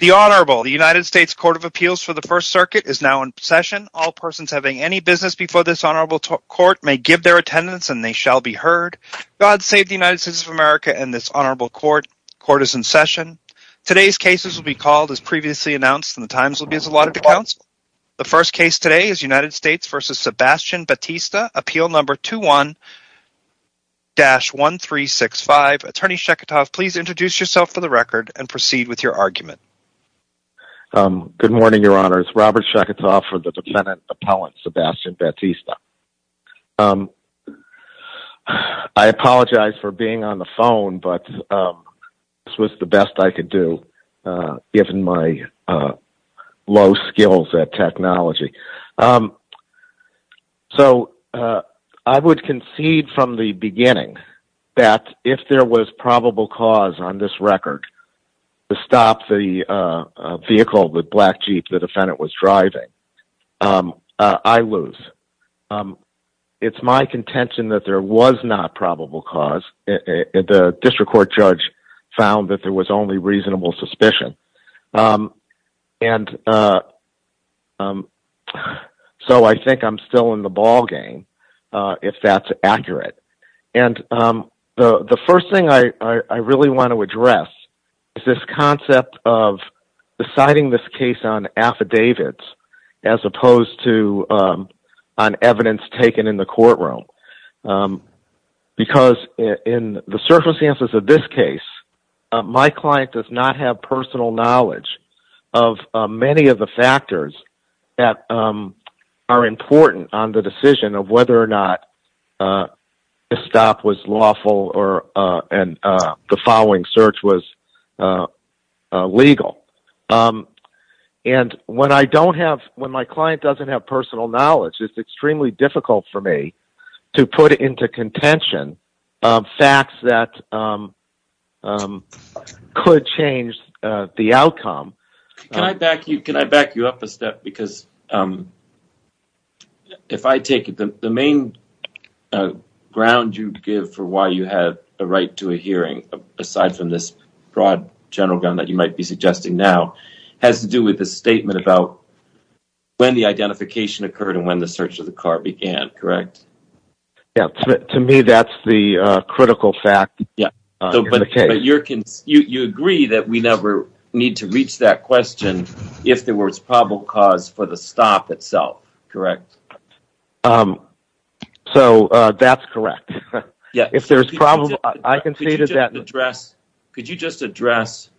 The Honorable the United States Court of Appeals for the First Circuit is now in session all persons having any business before this honorable Court may give their attendance and they shall be heard God save the United States of America and this honorable court court is in session Today's cases will be called as previously announced and the times will be as a lot of accounts The first case today is United States versus Sebastian Batista appeal number two one Dash one three six five attorney Sheketov. Please introduce yourself for the record and proceed with your argument Good morning, Your Honor's Robert Sheketov for the defendant appellant Sebastian Batista I Apologize for being on the phone, but This was the best I could do given my low skills at technology um so I would concede from the beginning that if there was probable cause on this record to stop the Vehicle that black jeep the defendant was driving I lose It's my contention that there was not probable cause the district court judge found that there was only reasonable suspicion and So I think I'm still in the ballgame if that's accurate and the the first thing I really want to address is this concept of Deciding this case on affidavits as opposed to on evidence taken in the courtroom Because in the circumstances of this case my client does not have personal knowledge of many of the factors that Are important on the decision of whether or not? the stop was lawful or and the following search was Legal And when I don't have when my client doesn't have personal knowledge. It's extremely difficult for me to put into contention facts that Could change the outcome back you can I back you up a step because If I take it the main Ground you give for why you have a right to a hearing Aside from this broad general gun that you might be suggesting now has to do with the statement about When the identification occurred and when the search of the car began, correct? Yeah to me. That's the critical fact. Yeah You agree that we never need to reach that question if there was probable cause for the stop itself, correct So, that's correct, yeah if there's problems I can see that address could you just address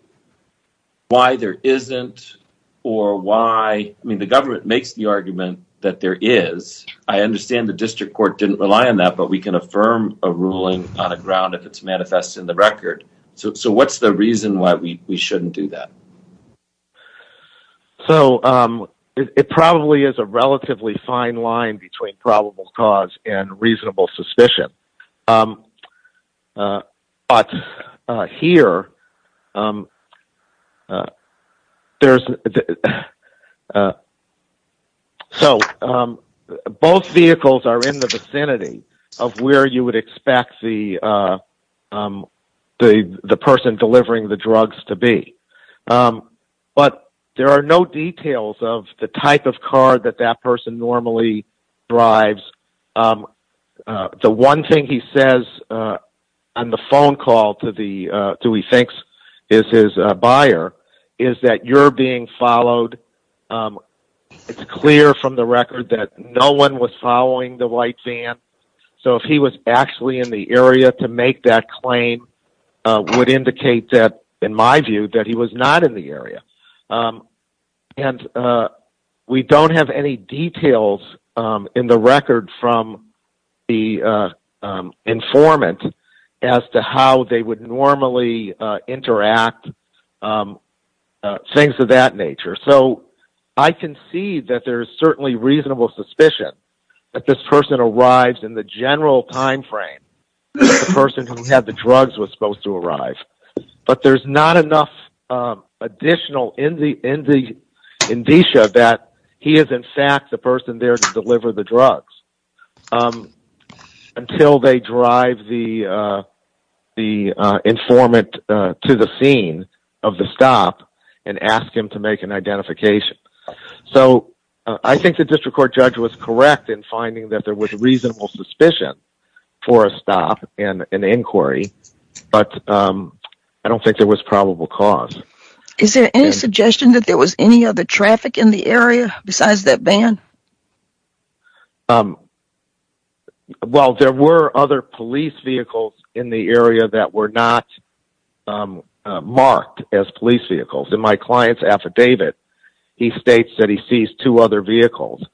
Why there isn't or why I mean the government makes the argument that there is I? Understand the district court didn't rely on that But we can affirm a ruling on the ground if it's manifest in the record. So what's the reason why we shouldn't do that? So it probably is a relatively fine line between probable cause and reasonable suspicion But here There's So Both vehicles are in the vicinity of where you would expect the The the person delivering the drugs to be But there are no details of the type of car that that person normally drives The one thing he says on the phone call to the do he thinks is his buyer is That you're being followed It's clear from the record that no one was following the white van So if he was actually in the area to make that claim Would indicate that in my view that he was not in the area and we don't have any details in the record from the Informant as to how they would normally interact Things of that nature so I can see that there's certainly reasonable suspicion That this person arrives in the general time frame Person who had the drugs was supposed to arrive, but there's not enough additional in the in the Indicia that he is in fact the person there to deliver the drugs Until they drive the the Informant to the scene of the stop and ask him to make an identification So I think the district court judge was correct in finding that there was reasonable suspicion For a stop and an inquiry, but I don't think there was probable cause Is there any suggestion that there was any other traffic in the area besides that van? Um Well, there were other police vehicles in the area that were not Marked as police vehicles in my clients affidavit. He states that he sees two other vehicles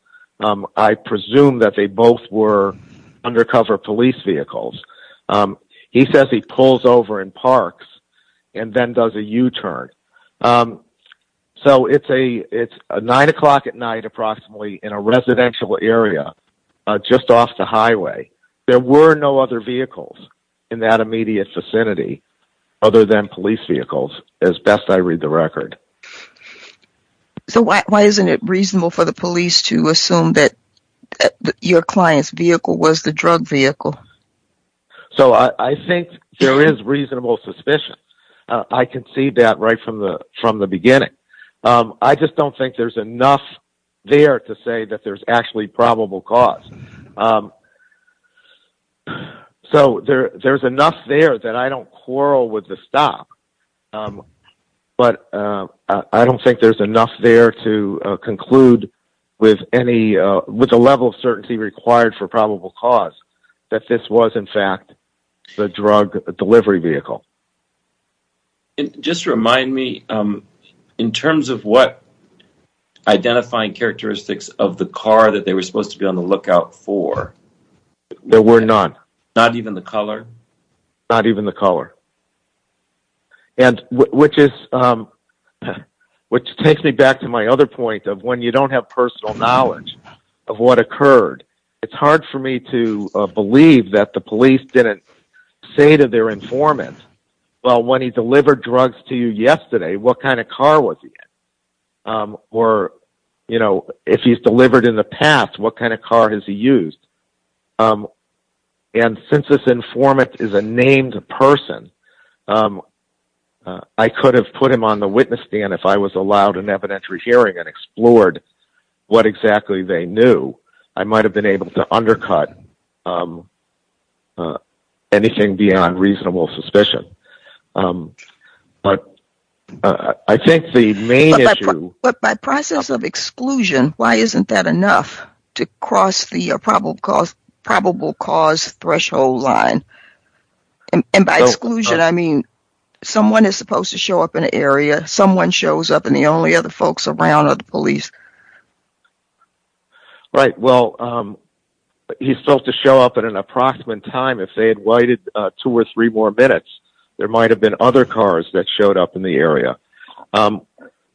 I presume that they both were undercover police vehicles He says he pulls over in parks and then does a u-turn So, it's a it's a nine o'clock at night approximately in a residential area Just off the highway. There were no other vehicles in that immediate vicinity Other than police vehicles as best I read the record So why isn't it reasonable for the police to assume that your clients vehicle was the drug vehicle? So I think there is reasonable suspicion I can see that right from the from the beginning I just don't think there's enough There to say that there's actually probable cause So there there's enough there that I don't quarrel with the stop But I don't think there's enough there to In fact Just remind me in terms of what identifying characteristics of the car that they were supposed to be on the lookout for There were not not even the color not even the color and Which is Which takes me back to my other point of when you don't have personal knowledge of what occurred It's hard for me to believe that the police didn't say to their informant Well when he delivered drugs to you yesterday, what kind of car was he? Or you know, if he's delivered in the past, what kind of car has he used? and Since this informant is a named person I Could have put him on the witness stand if I was allowed an evidentiary hearing and explored What exactly they knew I might have been able to undercut Anything beyond reasonable suspicion But I think the main issue but by process of exclusion Why isn't that enough to cross the probable cause probable cause threshold line? And by exclusion, I mean Someone is supposed to show up in an area someone shows up and the only other folks around or the police Right, well He's supposed to show up at an approximate time if they had waited two or three more minutes There might have been other cars that showed up in the area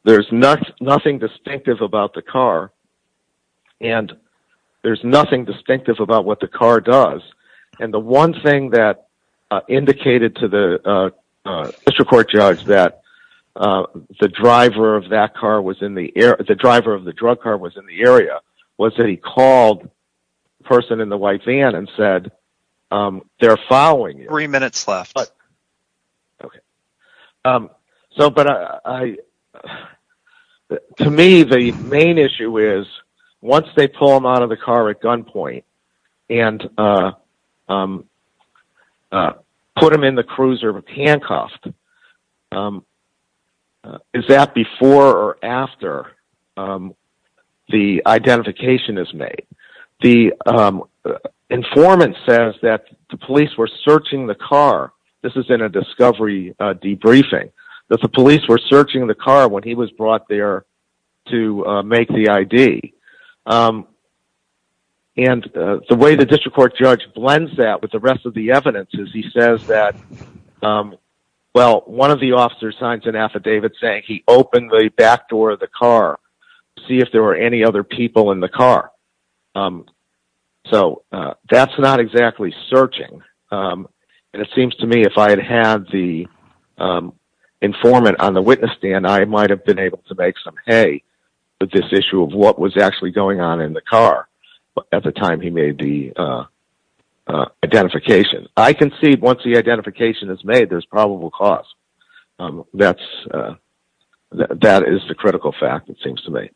there's not nothing distinctive about the car and There's nothing distinctive about what the car does and the one thing that indicated to the District Court judge that The driver of that car was in the air. The driver of the drug car was in the area. Was that he called person in the white van and said They're following three minutes left So, but I To me the main issue is once they pull them out of the car at gunpoint and I Put him in the cruiser of a handcuffed Is that before or after The identification is made the Informant says that the police were searching the car. This is in a discovery Debriefing that the police were searching the car when he was brought there to make the ID and The way the District Court judge blends that with the rest of the evidence is he says that Well, one of the officers signs an affidavit saying he opened the back door of the car See if there were any other people in the car So that's not exactly searching and it seems to me if I had had the Informant on the witness stand I might have been able to make some hay But this issue of what was actually going on in the car at the time he made the Identification I can see once the identification is made there's probable cause that's That is the critical fact it seems to me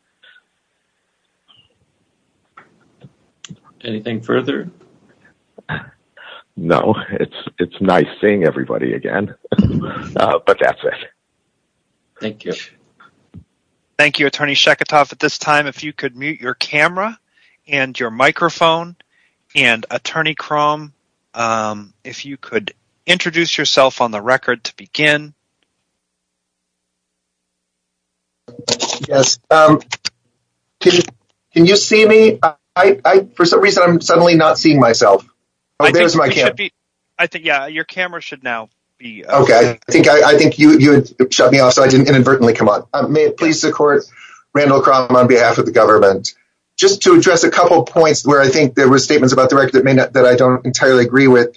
Anything further No, it's it's nice seeing everybody again, but that's it Thank you Thank You attorney Sheketov at this time if you could mute your camera and your microphone and attorney chrome If you could introduce yourself on the record to begin Yes Can you see me I for some reason I'm suddenly not seeing myself There's my kid. I think yeah, your camera should now be okay I think I think you would shut me off so I didn't inadvertently come on I'm a police the court Randall crumb on behalf of the government Just to address a couple points where I think there were statements about the record that may not that I don't entirely agree with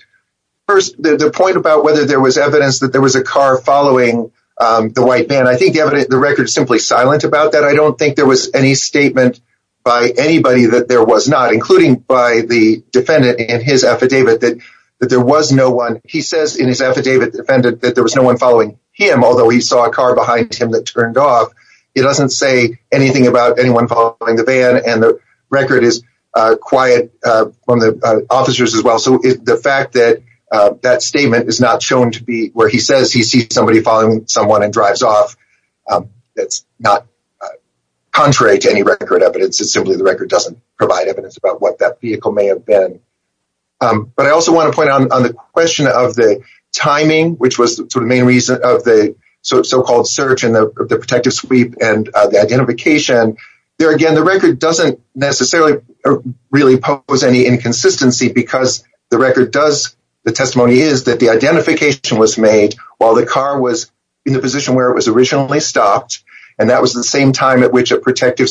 First the point about whether there was evidence that there was a car following The white man, I think the evidence the record is simply silent about that I don't think there was any statement by anybody that there was not including by the Defendant that there was no one following him. Although he saw a car behind him that turned off It doesn't say anything about anyone following the van and the record is quiet From the officers as well So if the fact that that statement is not shown to be where he says he sees somebody following someone and drives off It's not Contrary to any record evidence. It's simply the record doesn't provide evidence about what that vehicle may have been But I also want to point out on the question of the Timing which was the main reason of the so-called search in the protective sweep and the identification there again the record doesn't necessarily really pose any inconsistency because the record does the testimony is that the identification was made while the car was in the position where it was originally stopped and that was the same time at which a Mr.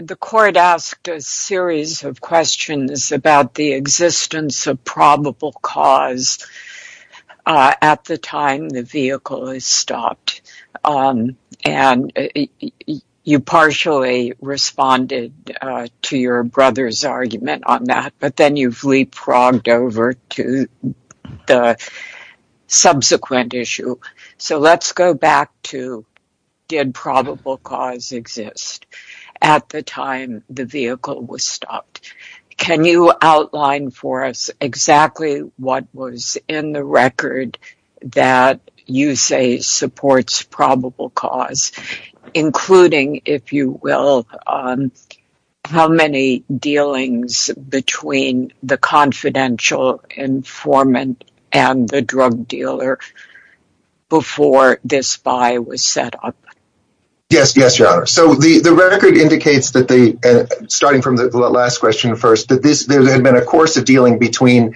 The court asked a series of questions about the existence of probable cause At the time the vehicle is stopped and you partially responded to your brother's argument on that, but then you've leapfrogged over to the So, let's go back to Did probable cause exist at the time the vehicle was stopped? Can you outline for us exactly what was in the record that you say? supports probable cause including if you will How many dealings between the confidential informant and the drug dealer? Before this spy was set up Yes Yes, your honor so the the record indicates that they starting from the last question first that this there had been a course of dealing between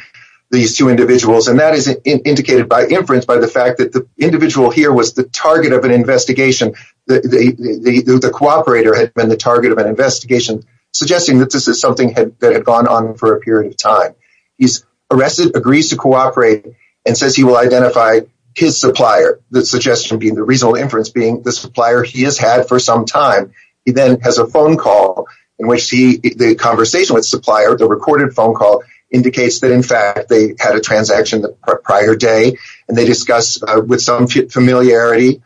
these two individuals and that is indicated by inference by the fact that the individual here was the target of an investigation that the Cooperator had been the target of an investigation Suggesting that this is something had that had gone on for a period of time Arrested agrees to cooperate and says he will identify His supplier the suggestion being the reasonable inference being the supplier he has had for some time He then has a phone call in which he the conversation with supplier the recorded phone call Indicates that in fact they had a transaction the prior day and they discuss with some familiarity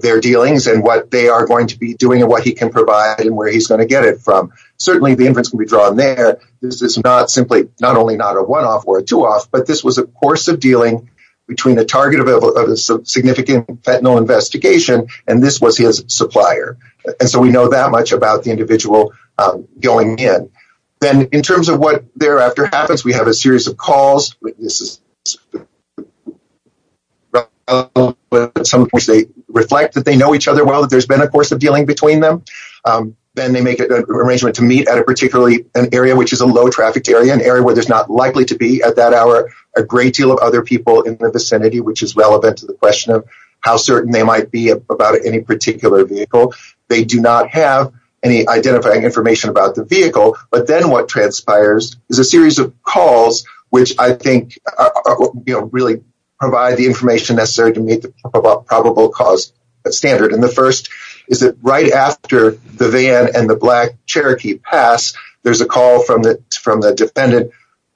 Their dealings and what they are going to be doing and what he can provide and where he's going to get it from Certainly the inference can be drawn there This is not simply not only not a one-off or a two-off But this was a course of dealing between the target of a significant fentanyl investigation And this was his supplier and so we know that much about the individual Going in then in terms of what thereafter happens. We have a series of calls Some of which they reflect that they know each other well that there's been a course of dealing between them Then they make it an arrangement to meet at a particularly an area Which is a low trafficked area an area where there's not likely to be at that hour a great deal of other people in the Vicinity which is relevant to the question of how certain they might be about any particular vehicle They do not have any identifying information about the vehicle But then what transpires is a series of calls which I think You know really provide the information necessary to meet the probable cause Standard and the first is that right after the van and the black Cherokee pass There's a call from the from the defendant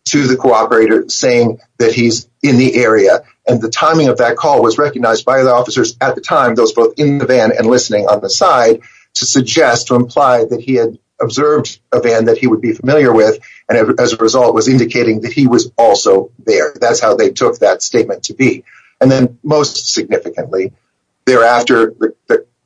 To the cooperator saying that he's in the area and the timing of that call was recognized by the officers at the time those both in the van and listening on the side to suggest to imply that he had Observed a van that he would be familiar with and as a result was indicating that he was also there That's how they took that statement to be and then most significantly thereafter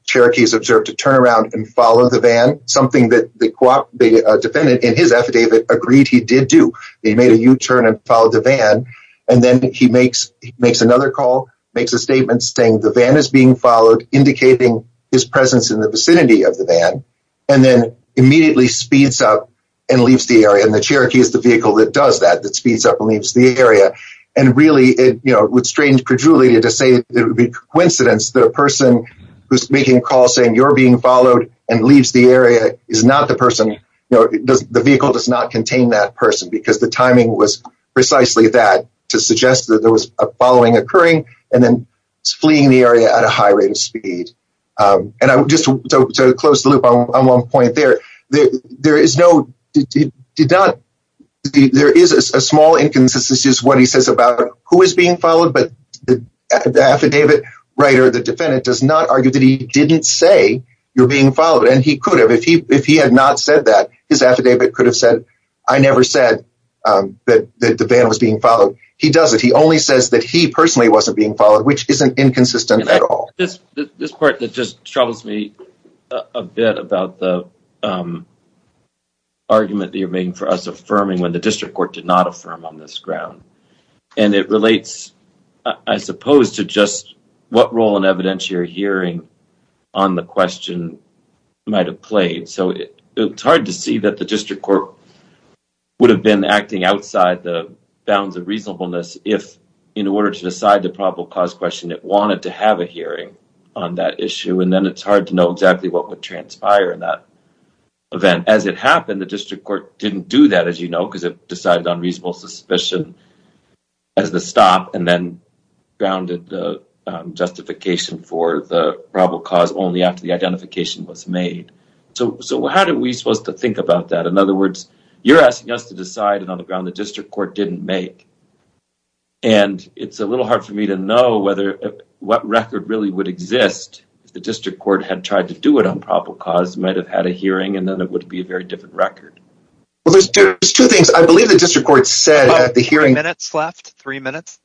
Cherokees observed to turn around and follow the van something that the co-op Defendant in his affidavit agreed He did do he made a u-turn and followed the van and then he makes makes another call makes a statement saying the van is being followed indicating his presence in the vicinity of the van and then Immediately speeds up and leaves the area and the Cherokee is the vehicle that does that that speeds up and leaves the area and Really it you know would strange perjury to say it would be coincidence that a person Who's making a call saying you're being followed and leaves the area is not the person you know the vehicle does not contain that person because the timing was Precisely that to suggest that there was a following occurring and then fleeing the area at a high rate of speed And I would just close the loop on one point there there is no did not there is a small inconsistency is what he says about who is being followed but The affidavit writer the defendant does not argue that he didn't say You're being followed and he could have if he if he had not said that his affidavit could have said I never said That the van was being followed. He does it Only says that he personally wasn't being followed which isn't inconsistent at all this this part that just troubles me a bit about the Argument that you're making for us affirming when the district court did not affirm on this ground and it relates I Suppose to just what role in evidentiary hearing on the question Might have played so it it's hard to see that the district court Would have been acting outside the bounds of reasonableness if in order to decide the probable cause question It wanted to have a hearing on that issue. And then it's hard to know exactly what would transpire in that event as it happened the district court didn't do that as you know, because it decided on reasonable suspicion as the stop and then grounded the Justification for the probable cause only after the identification was made. So so how do we supposed to think about that? In other words? you're asking us to decide and on the ground the district court didn't make and It's a little hard for me to know whether What record really would exist? The district court had tried to do it on probable cause might have had a hearing and then it would be a very different record Well, there's two things. I believe the district court said at the hearing minutes left three minutes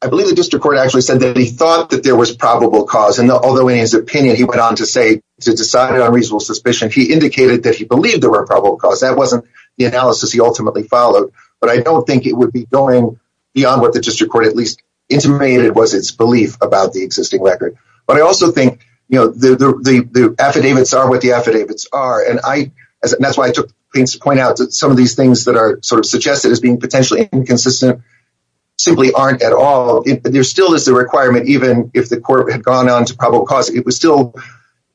I believe the district court actually said that he thought that there was probable cause and although in his opinion He went on to say to decide on reasonable suspicion. He indicated that he believed there were probable cause that wasn't The analysis he ultimately followed but I don't think it would be going beyond what the district court at least Intimated was its belief about the existing record but I also think you know the Affidavits are what the affidavits are and I and that's why I took things to point out that some of these things that are sort Of suggested as being potentially inconsistent Simply aren't at all. There still is the requirement even if the court had gone on to probable cause it was still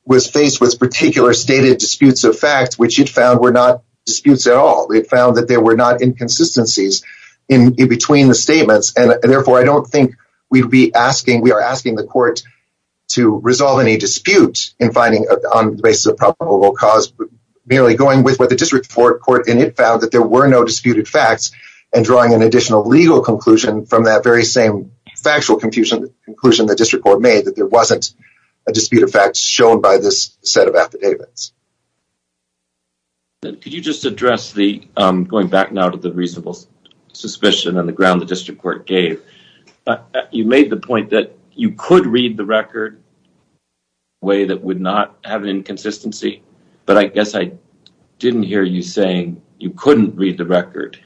Was faced with particular stated disputes of facts, which it found were not disputes at all It found that there were not inconsistencies in between the statements And therefore I don't think we'd be asking we are asking the court To resolve any dispute in finding on the basis of probable cause Merely going with what the district court in it found that there were no disputed facts and drawing an additional legal conclusion from that very same Factual confusion the conclusion the district court made that there wasn't a dispute of facts shown by this set of affidavits Could you just address the going back now to the reasonable suspicion on the ground the district court gave You made the point that you could read the record Way that would not have an inconsistency, but I guess I didn't hear you saying you couldn't read the record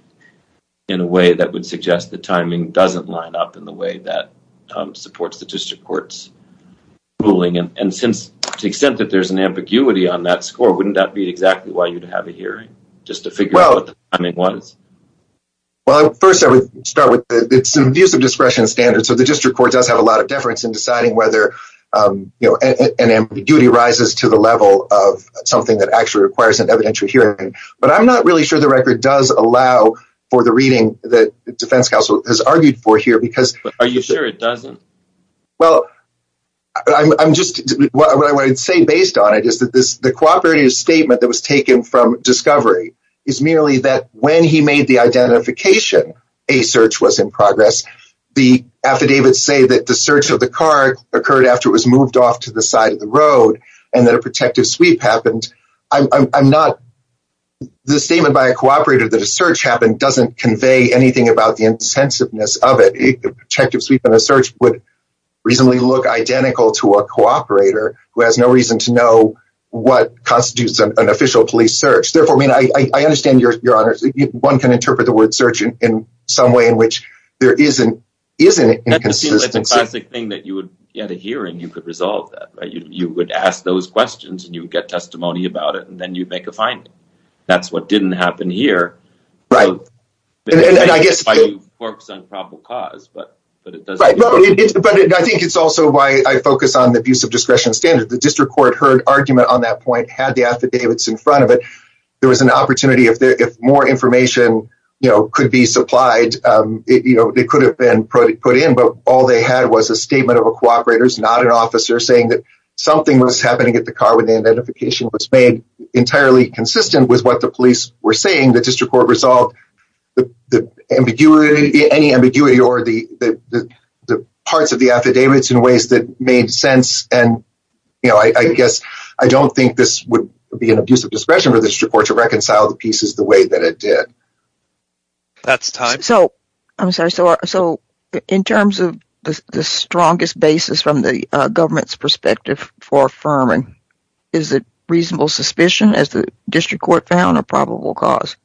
In a way that would suggest the timing doesn't line up in the way that supports the district court's ruling and since the extent that there's an ambiguity on that score wouldn't that be exactly why you'd have a hearing just to figure out I mean was Well first I would start with it's an abuse of discretion standard So the district court does have a lot of deference in deciding whether You know an ambiguity rises to the level of something that actually requires an evidentiary hearing but I'm not really sure the record does allow for the reading that the Defense Council has argued for here because are you sure it doesn't well I'm just I'd say based on it is that this the cooperative statement that was taken from discovery is merely that when he made the identification a search was in progress the Affidavits say that the search of the car occurred after it was moved off to the side of the road and that a protective sweep Happened. I'm not The statement by a cooperator that a search happened doesn't convey anything about the incensiveness of it Checkups, we've been a search would reasonably look identical to a cooperator who has no reason to know What constitutes an official police search therefore? I mean, I understand your your honors one can interpret the word surgeon in some way in which there isn't isn't It's a classic thing that you would get a hearing you could resolve that you would ask those questions And you would get testimony about it, and then you'd make a finding That's what didn't happen here, right? But I think it's also why I focus on the abuse of discretion standard the district court heard argument on that point had the affidavits In front of it. There was an opportunity if there if more information, you know could be supplied You know They could have been put it put in but all they had was a statement of a cooperators not an officer saying that Something was happening at the car when the identification was made entirely consistent with what the police were saying the district court resolved the ambiguity any ambiguity or the parts of the affidavits in ways that made sense and You know I guess I don't think this would be an abuse of discretion for the district court to reconcile the pieces the way that It did That's time so I'm sorry so so in terms of the strongest basis from the government's perspective For affirming is it reasonable suspicion as the district court found a probable cause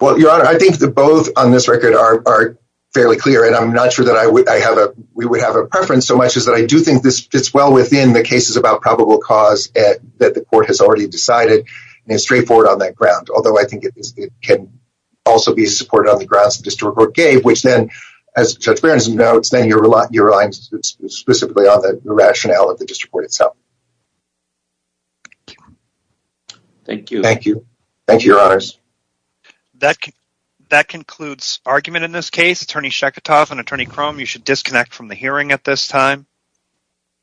Well your honor. I think the both on this record are Fairly clear, and I'm not sure that I would I have a we would have a preference so much is that I do think this It's well within the cases about probable cause at that the court has already decided And it's straightforward on that ground although I think it can also be supported on the grounds the district court gave which then as judge Barron's notes Then you're a lot your lines specifically on the rationale of the district court itself Thank you, thank you, thank you your honors That can that concludes argument in this case attorney Shek a tough and attorney chrome. You should disconnect from the hearing at this time